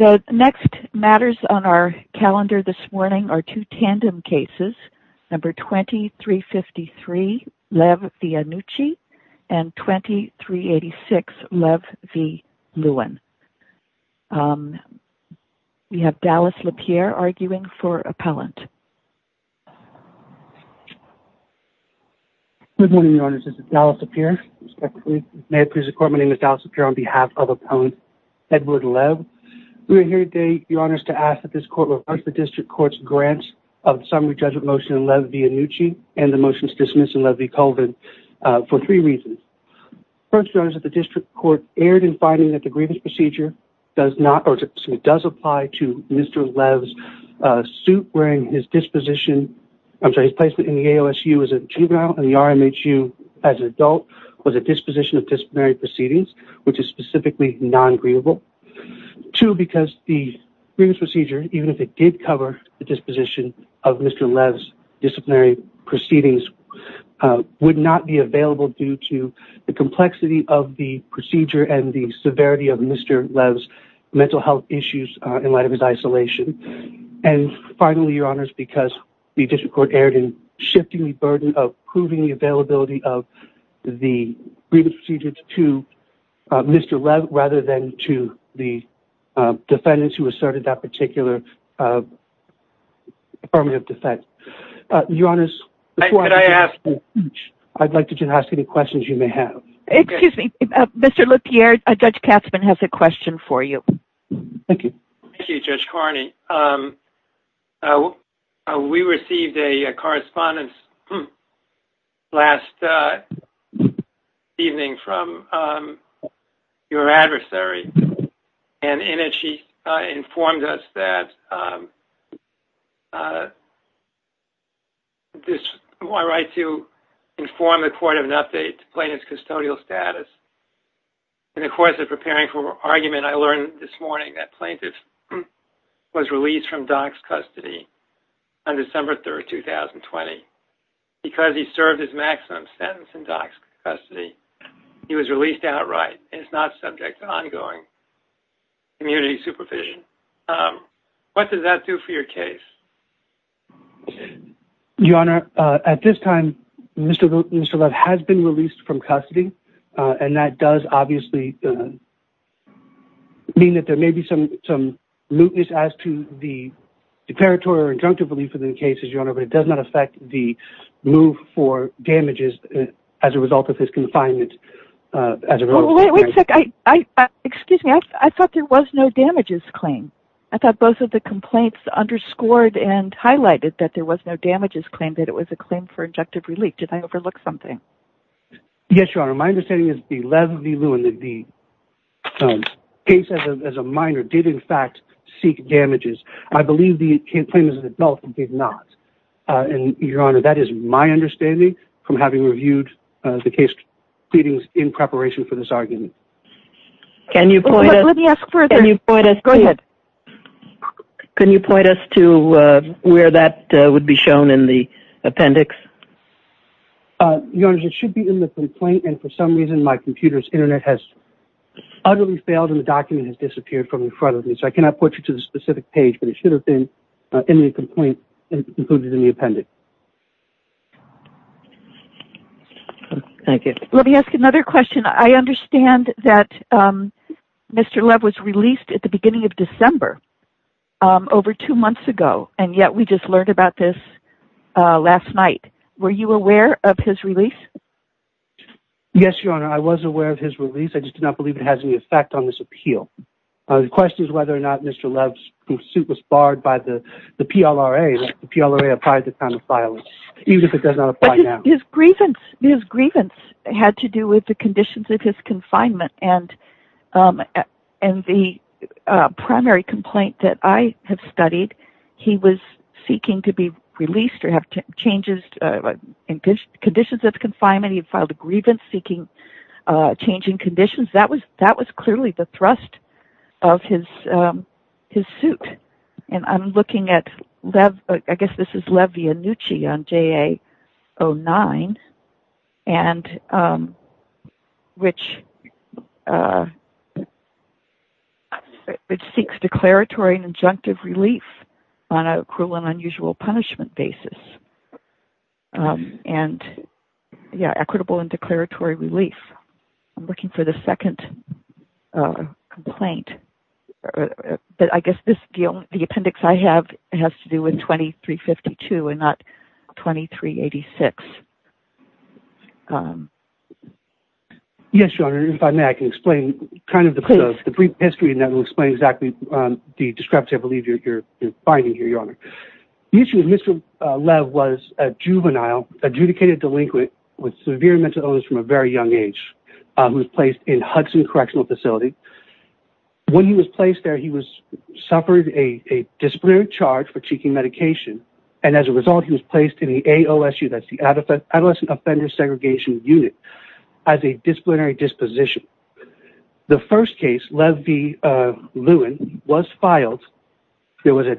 The next matters on our calendar this morning are two tandem cases, number 2353 Lev v. Annucci and 2386 Lev v. Lewin. We have Dallas LaPierre arguing for appellant. Good morning, Your Honors. This is Dallas LaPierre. May it please the Court, my name is Dallas LaPierre. We're here today, Your Honors, to ask that this Court reverse the District Court's grants of the summary judgment motion in Lev v. Annucci and the motions dismissed in Lev v. Colvin for three reasons. First, Your Honors, that the District Court erred in finding that the grievance procedure does not or does apply to Mr. Lev's suit wearing his disposition, I'm sorry, his placement in the AOSU as a juvenile and the RMHU as an adult was a disposition of disciplinary proceedings, which is specifically non-grievable. Two, because the grievance procedure, even if it did cover the disposition of Mr. Lev's disciplinary proceedings, would not be available due to the complexity of the procedure and the severity of Mr. Lev's mental health issues in light of his isolation. And finally, Your Honors, because the District Court erred in shifting the burden of proving the availability of the grievance procedures to Mr. Lev rather than to the defendants who asserted that particular affirmative defense. Your Honors, before I continue, I'd like to ask any questions you may have. Excuse me, Mr. LaPierre, Judge Katzmann has a question for you. Thank you, Judge Carney. We received a correspondence last evening from your adversary, and in it she informed us that it is my right to inform the court of an update to plaintiff's custodial status. In the course of preparing for argument, I learned this morning that plaintiff was released from doc's custody on December 3, 2020. Because he served his maximum sentence in doc's custody, he was released outright and is not subject to ongoing community supervision. What does that do for your case? Your Honor, at this time, Mr. Lev has been released from custody, and that does obviously mean that there may be some some mootness as to the declaratory or injunctive relief in the cases, Your Honor, but it does not affect the move for damages as a result of his confinement. Wait a second, excuse me, I thought there was no damages claim. I thought both of the complaints underscored and highlighted that there was no damages claim, that it was a claim for injunctive relief. Did I overlook something? Yes, Your Honor, my understanding is that the case as a minor did in fact seek damages. I believe the complaint as an adult did not, and Your Honor, that is my understanding from having reviewed the case pleadings in preparation for this argument. Can you point us to where that would be shown in the appendix? Your Honor, it should be in the complaint, and for some reason my computer's internet has utterly failed, and the document has disappeared from in front of me, so I cannot point you to the specific page, but it should have been in the complaint included in the appendix. Thank you. Let me ask another question. I understand that Mr. Lev was released at the beginning of December over two months ago, and yet we just learned about this last night. Were you aware of his release? Yes, Your Honor, I was aware of his release. I just do not believe it has any effect on this appeal. The question is whether or not Mr. Lev's suit was barred by the PLRA. The PLRA applied the time of filing, even if it does not apply now. His grievance had to do with the conditions of his confinement, and the primary complaint that I have studied, he was seeking to be released or have changes in conditions of confinement. He had filed a grievance seeking changing conditions. That was clearly the second complaint, but I guess the appendix I have has to do with 2352 and not 2386. Yes, Your Honor, if I may, I can explain the brief history and that will explain exactly the discrepancy I believe you are finding here, Your Honor. The issue with Mr. Lev was a juvenile, adjudicated delinquent with severe mental illness from a very young age who was placed in Hudson Correctional Facility. When he was placed there, he suffered a disciplinary charge for seeking medication, and as a result, he was placed in the AOSU, that's the Adolescent Offender Segregation Unit, as a disciplinary disposition. The first case, Lev v. Lewin, was filed. There was a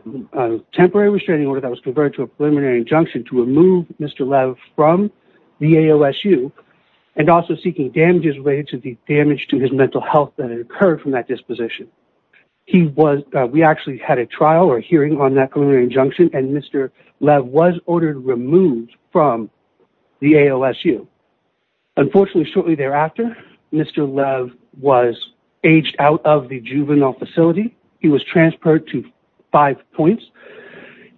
temporary restraining order that was converted to a preliminary injunction to remove Mr. Lev from the AOSU and also seeking damages related to the damage to his mental health that and Mr. Lev was ordered removed from the AOSU. Unfortunately, shortly thereafter, Mr. Lev was aged out of the juvenile facility. He was transferred to Five Points,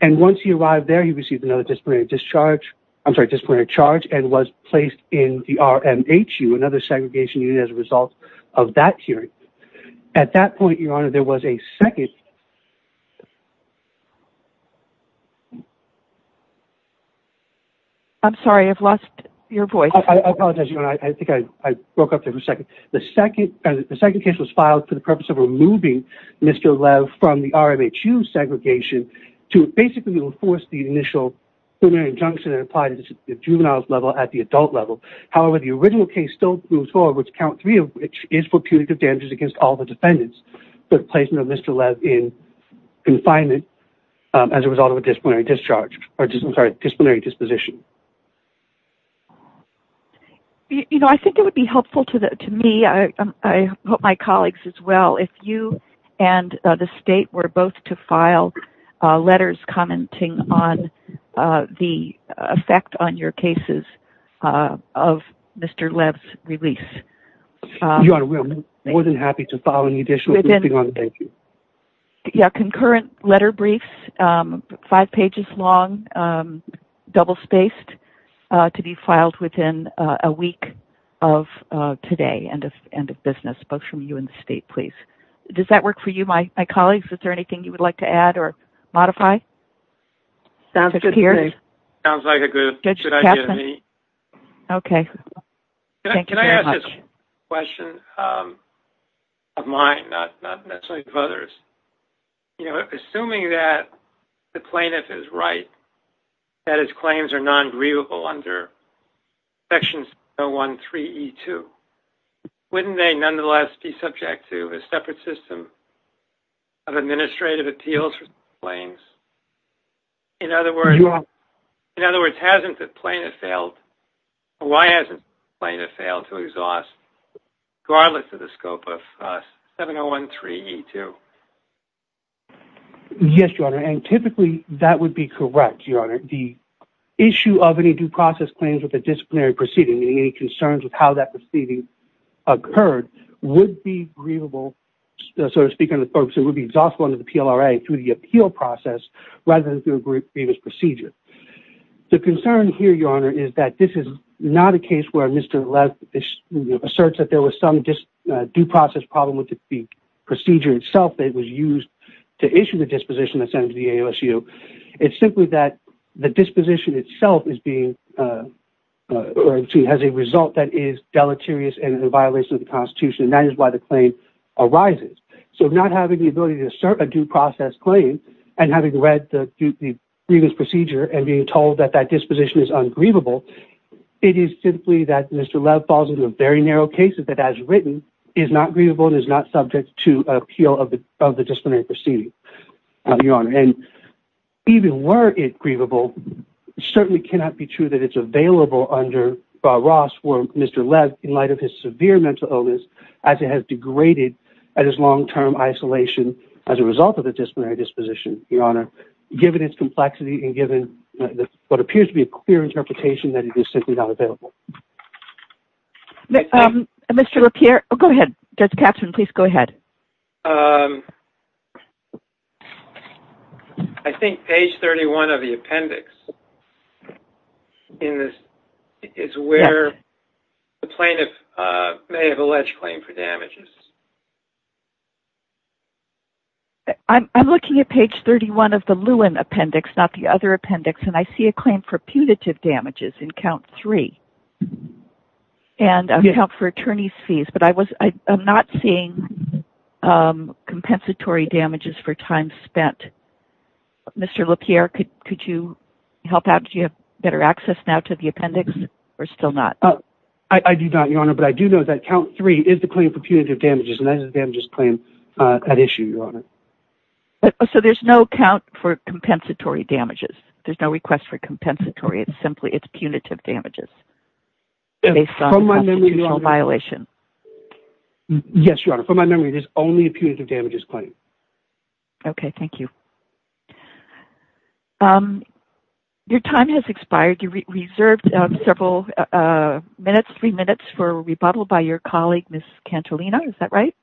and once he arrived there, he received another disciplinary discharge, I'm sorry, disciplinary charge and was placed in the RMHU, another segregation unit, as a result of that hearing. At that point, there was a second... I'm sorry, I've lost your voice. I apologize. I think I broke up for a second. The second case was filed for the purpose of removing Mr. Lev from the RMHU segregation to basically enforce the initial preliminary injunction that applied at the juvenile level at the adult level. However, the original case still moves forward, which count three of which is for punitive damages against all the defendants, but placement of Mr. Lev in confinement as a result of a disciplinary discharge, or I'm sorry, disciplinary disposition. You know, I think it would be helpful to me, I hope my colleagues as well, if you and the state were both to file letters commenting on the effect on your cases of Mr. Lev's release. Your Honor, we're more than happy to file any additional... Yeah, concurrent letter briefs, five pages long, double-spaced, to be filed within a week of today, end of business, both from you and the state, please. Does that work for you, my colleagues? Is there anything you would like to add or modify? Sounds like a good idea to me. Okay, thank you very much. Can I ask a question of mine, not necessarily of others? You know, assuming that the plaintiff is right, that his claims are non-grievable under Section 701.3.e.2, wouldn't they nonetheless be subject to a separate system of administrative appeals for claims? In other words, hasn't the plaintiff failed? Why hasn't the plaintiff failed to exhaust the scope of 701.3.e.2? Yes, Your Honor, and typically that would be correct, Your Honor. The issue of any due process claims with a disciplinary proceeding, any concerns with how that proceeding occurred, would be exhaustible under the PLRA through the appeal process, rather than through a grievous procedure. The concern here, Your Honor, is that this is not a case where Mr. asserts that there was some due process problem with the procedure itself that was used to issue the disposition that's sent to the AOSU. It's simply that the disposition itself has a result that is deleterious and in violation of the Constitution, and that is why the claim arises. So not having the ability to assert a due process claim and having read the grievance procedure and being told that that disposition is ungrievable, it is simply that Mr. Lev falls into a very narrow case that, as written, is not grievable and is not subject to appeal of the disciplinary proceeding, Your Honor. And even were it grievable, it certainly cannot be true that it's available under Ross for Mr. Lev in light of his severe mental illness, as it has degraded at his long term isolation as a result of the disciplinary disposition, Your Honor, given its complexity and given what appears to be a clear interpretation that it is simply not available. Mr. LaPierre, go ahead. Judge Katzmann, please go ahead. I think page 31 of the appendix in this is where the plaintiff may have alleged claim for damages. I'm looking at page 31 of the Lewin appendix, not the other appendix, and I see a claim for punitive damages in count three and account for attorney's fees, but I'm not seeing compensatory damages for time spent. Mr. LaPierre, could you help out? Do you have better access now to the appendix or still not? I do not, Your Honor, but I do know that count three is the claim for punitive damages and that is the damages claim at issue, Your Honor. So there's no count for compensatory damages. There's no request for compensatory. It's simply it's punitive damages based on constitutional violation. Yes, Your Honor. From my memory, there's only a punitive damages claim. Okay, thank you. Your time has expired. You reserved several minutes, three minutes, for rebuttal by your colleague, Ms. Cantolina. Is that right?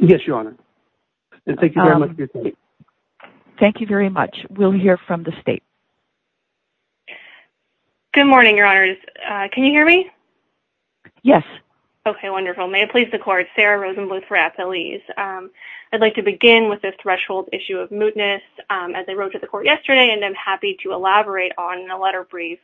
Yes, Your Honor, and thank you very much for your time. Thank you very much. We'll hear from the state. Good morning, Your Honors. Can you hear me? Yes. Okay, wonderful. May it please the Court, Sarah Rosenbluth for Appellees. I'd like to begin with this threshold issue of mootness. As I wrote to the Court yesterday, and I'm happy to elaborate on in a letter brief,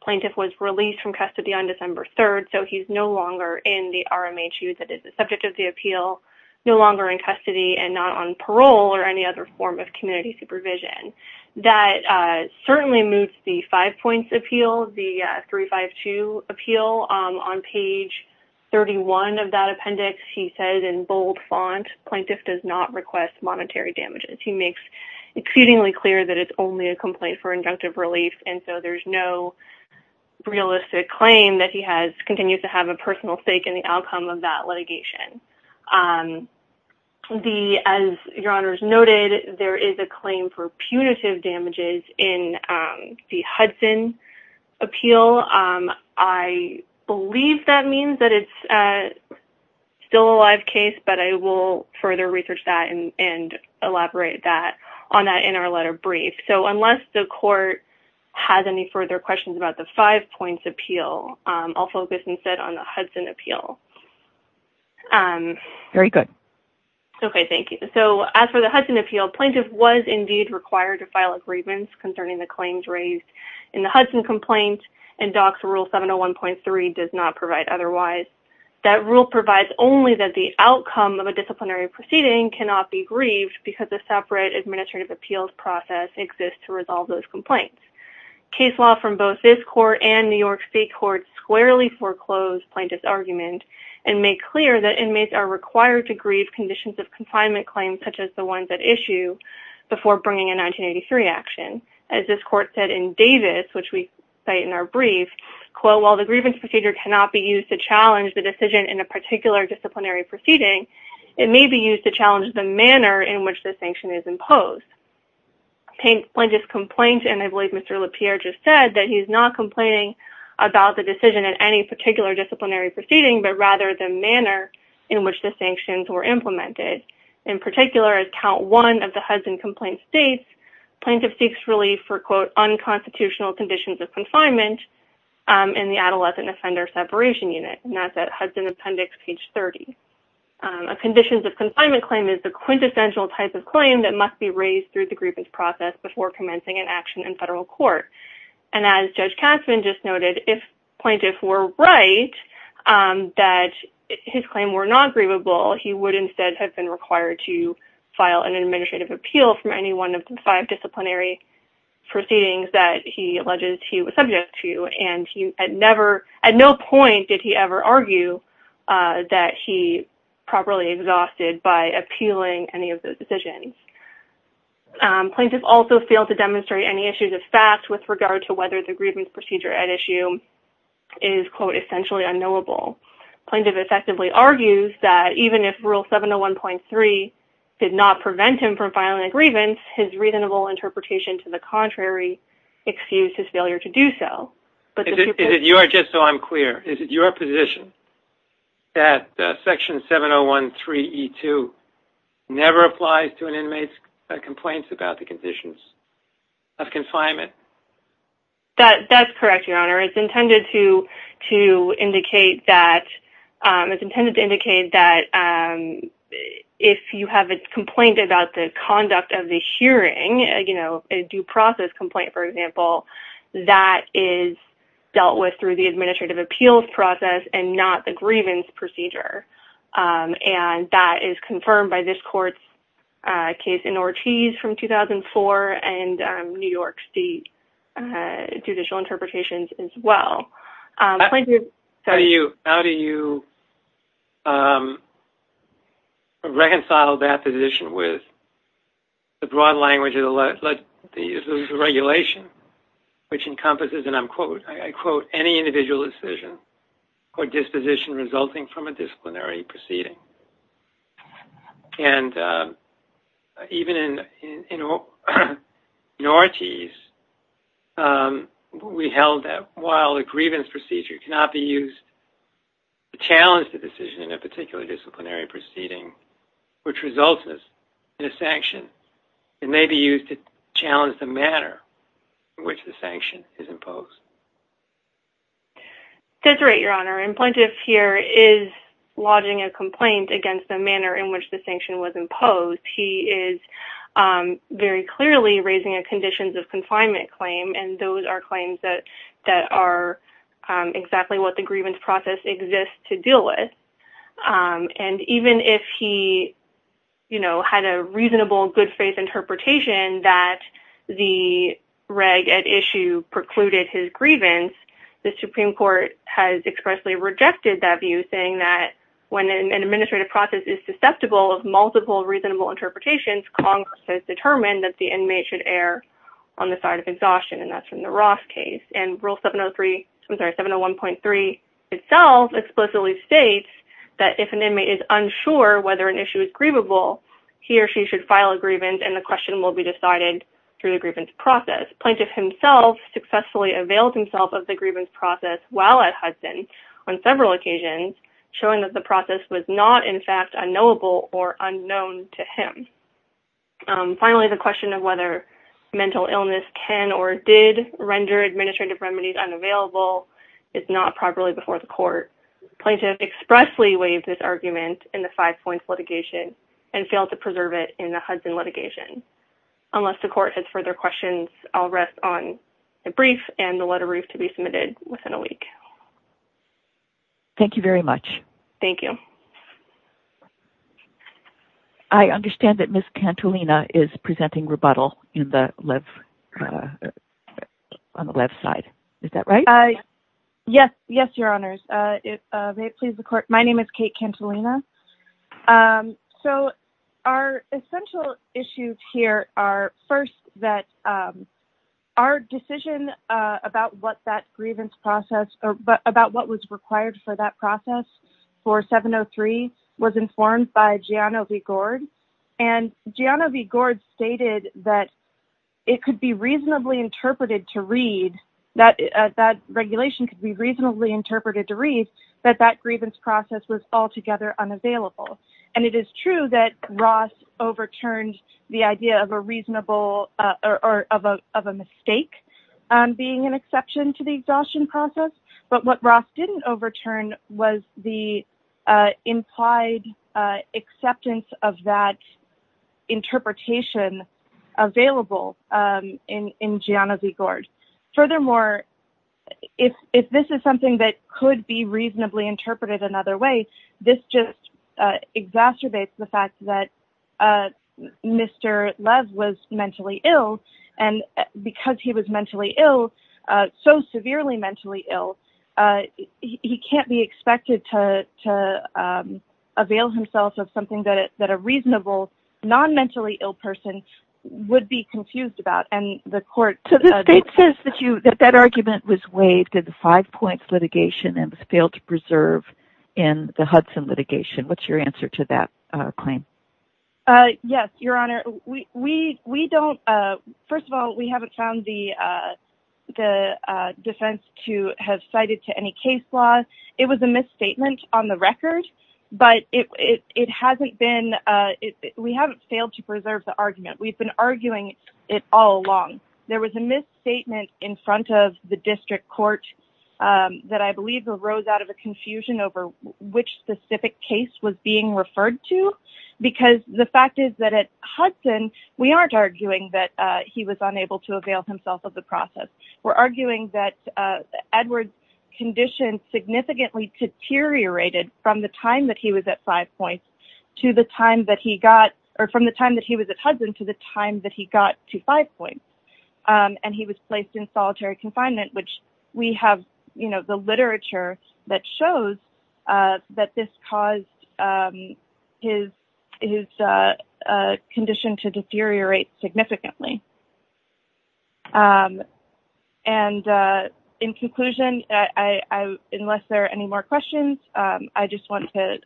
the plaintiff was released from custody on December 3rd, so he's no longer in the RMHU that is the subject of the appeal, no longer in custody, and not on parole or any other form of community supervision. That certainly moots the five points appeal, the 352 appeal on page 31 of that appendix. He says in bold font, plaintiff does not request monetary damages. He makes exceedingly clear that it's only a complaint for injunctive relief, and so there's no realistic claim that he continues to have a personal stake in the outcome of that litigation. As Your Honors noted, there is a claim for punitive damages in the Hudson appeal. I believe that means that it's still a live case, but I will further research that and elaborate on that in our letter brief. Unless the Court has any further questions about the five points appeal, I'll focus instead on the Hudson appeal. Very good. Okay, thank you. As for the Hudson appeal, plaintiff was indeed required to file agreements concerning the claims raised in the Hudson complaint, and DOCS rule 701.3 does not provide otherwise. That rule provides only that the outcome of a disciplinary proceeding cannot be grieved because a separate administrative appeals process exists to resolve those complaints. Case law from both this Court and New York State Courts squarely foreclosed plaintiff's argument and made clear that inmates are required to grieve conditions of confinement claims such as the ones at issue before bringing a 1983 action. As this Court said in Davis, which we cite in our brief, quote, while the grievance procedure cannot be used to challenge the decision in a particular disciplinary proceeding, it may be used to challenge the manner in which the sanction is imposed. Plaintiff's complaint, and I believe Mr. LaPierre just said that he's not complaining about the decision at any particular disciplinary proceeding, but rather the manner in which the sanctions were implemented. In particular, as count one of the Hudson complaint states, plaintiff seeks relief for, quote, unconstitutional conditions of confinement in the adolescent offender separation unit, and that's at Hudson appendix page 30. A conditions of confinement claim is the quintessential type of claim that must be raised through the grievance process before commencing an action in federal court. And as Judge Kasman just noted, if plaintiff were right that his claim were not grievable, he would instead have been required to file an administrative appeal from any one of the five disciplinary proceedings that he alleges he was subject to, and he had never, at no point did he ever argue that he properly exhausted by appealing any of those decisions. Plaintiff also failed to demonstrate any issues of fact with regard to whether the grievance procedure at issue is, quote, essentially unknowable. Plaintiff effectively argues that even if rule 701.3 did not prevent him from filing a grievance, his reasonable interpretation to the contrary excused his failure to do so. Is it your, just so I'm clear, is it your position that section 701.3e2 never applies to an inmate's complaints about the conditions of confinement? That's correct, Your Honor. It's intended to indicate that, it's intended to indicate that if you have a complaint about the conduct of the hearing, you know, a due process complaint, for example, that is dealt with through the administrative appeals process and not the grievance procedure. And that is confirmed by this court's case in Ortiz from 2004 and New York State judicial interpretations as well. How do you reconcile that position with the broad language of the legislation, which encompasses, and I'm quoting, I quote, any individual decision or disposition resulting from a disciplinary proceeding? And even in Ortiz, we held that while a grievance procedure cannot be used to challenge the decision in a particular disciplinary proceeding, which results in a sanction, it may be used to challenge the manner in which the sanction is imposed. That's right, Your Honor. And Plaintiff here is lodging a complaint against the manner in which the sanction was imposed. He is very clearly raising a conditions of confinement claim, and those are claims that are exactly what the grievance process exists to deal with. And even if he, you know, had a reasonable good faith interpretation that the reg at issue precluded his grievance, the Supreme Court has expressly rejected that view, saying that when an administrative process is susceptible of multiple reasonable interpretations, Congress has determined that the inmate should err on the side of exhaustion, and that's from the Ross case. And Rule 703, I'm sorry, 701.3 itself explicitly states that if an inmate is unsure whether an issue is grievable, he or she should file a grievance, and the question will be decided through the grievance process. Plaintiff himself successfully availed himself of the grievance process while at Hudson on several occasions, showing that the process was not, in fact, unknowable or unknown to him. Finally, the question of whether mental illness can or did render administrative remedies unavailable is not properly before the court. Plaintiff expressly waived this argument in the litigation. Unless the court has further questions, I'll rest on the brief and the letter roof to be submitted within a week. Thank you very much. Thank you. I understand that Ms. Cantolina is presenting rebuttal on the left side. Is that right? Yes. Yes, Your Honors. May it please the court, my name is Kate Cantolina. So, our essential issues here are first that our decision about what that grievance process, about what was required for that process for 703 was informed by Giano V. Gord, and Giano V. Gord stated that it could be reasonably interpreted to read, that regulation could be reasonably interpreted to read that that grievance process was altogether unavailable. And it is true that Ross overturned the idea of a reasonable or of a mistake being an exception to the exhaustion process. But what Ross didn't overturn was the implied acceptance of that interpretation available in Giano V. Gord. Furthermore, if this is something that could be reasonably interpreted another way, this just exacerbates the fact that Mr. Lev was mentally ill, and because he was mentally ill, so severely mentally ill, he can't be expected to avail himself of something that a reasonable, non-mentally ill person would be confused about. And the court... So the state says that you, that that argument was waived at the five points litigation and was failed to preserve in the Hudson litigation. What's your answer to that claim? Yes, Your Honor. We don't... First of all, we haven't found the defense to have cited to any case law. It was a misstatement on the record, but it hasn't been... We haven't failed to preserve the argument. We've been arguing it all along. There was a misstatement in front of the district court that I believe arose out of a confusion over which specific case was being referred to, because the fact is that at Hudson, we aren't arguing that he was unable to avail himself of the process. We're arguing that Edward's condition significantly deteriorated from the time that he was at five points to the time that he got... Or from the time that he was at Hudson to the time that he got to five points. And he was placed in solitary confinement, which we have the literature that shows that this caused his condition to deteriorate significantly. And in conclusion, unless there are any more questions, I just want to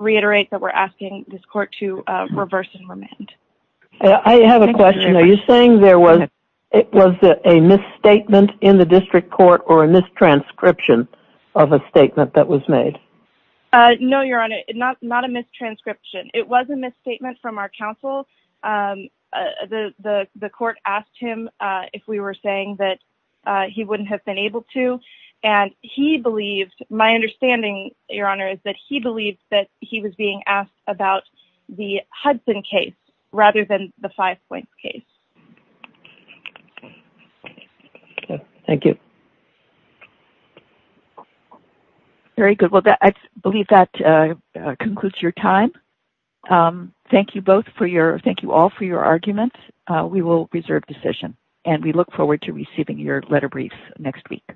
reiterate that we're asking this court to reverse and remand. I have a question. Are you saying there was a misstatement in the district court or a mistranscription of a statement that was made? No, Your Honor, not a mistranscription. It was a misstatement from our counsel. The court asked him if we were saying that he wouldn't have been able to, and he believed... My understanding, Your Honor, is that he believed that he was being asked about the Hudson case rather than the five points case. Thank you. Very good. Well, I believe that concludes your time. Thank you both for your... Thank you all for your arguments. We will reserve decision, and we look forward to receiving your letter briefs next week.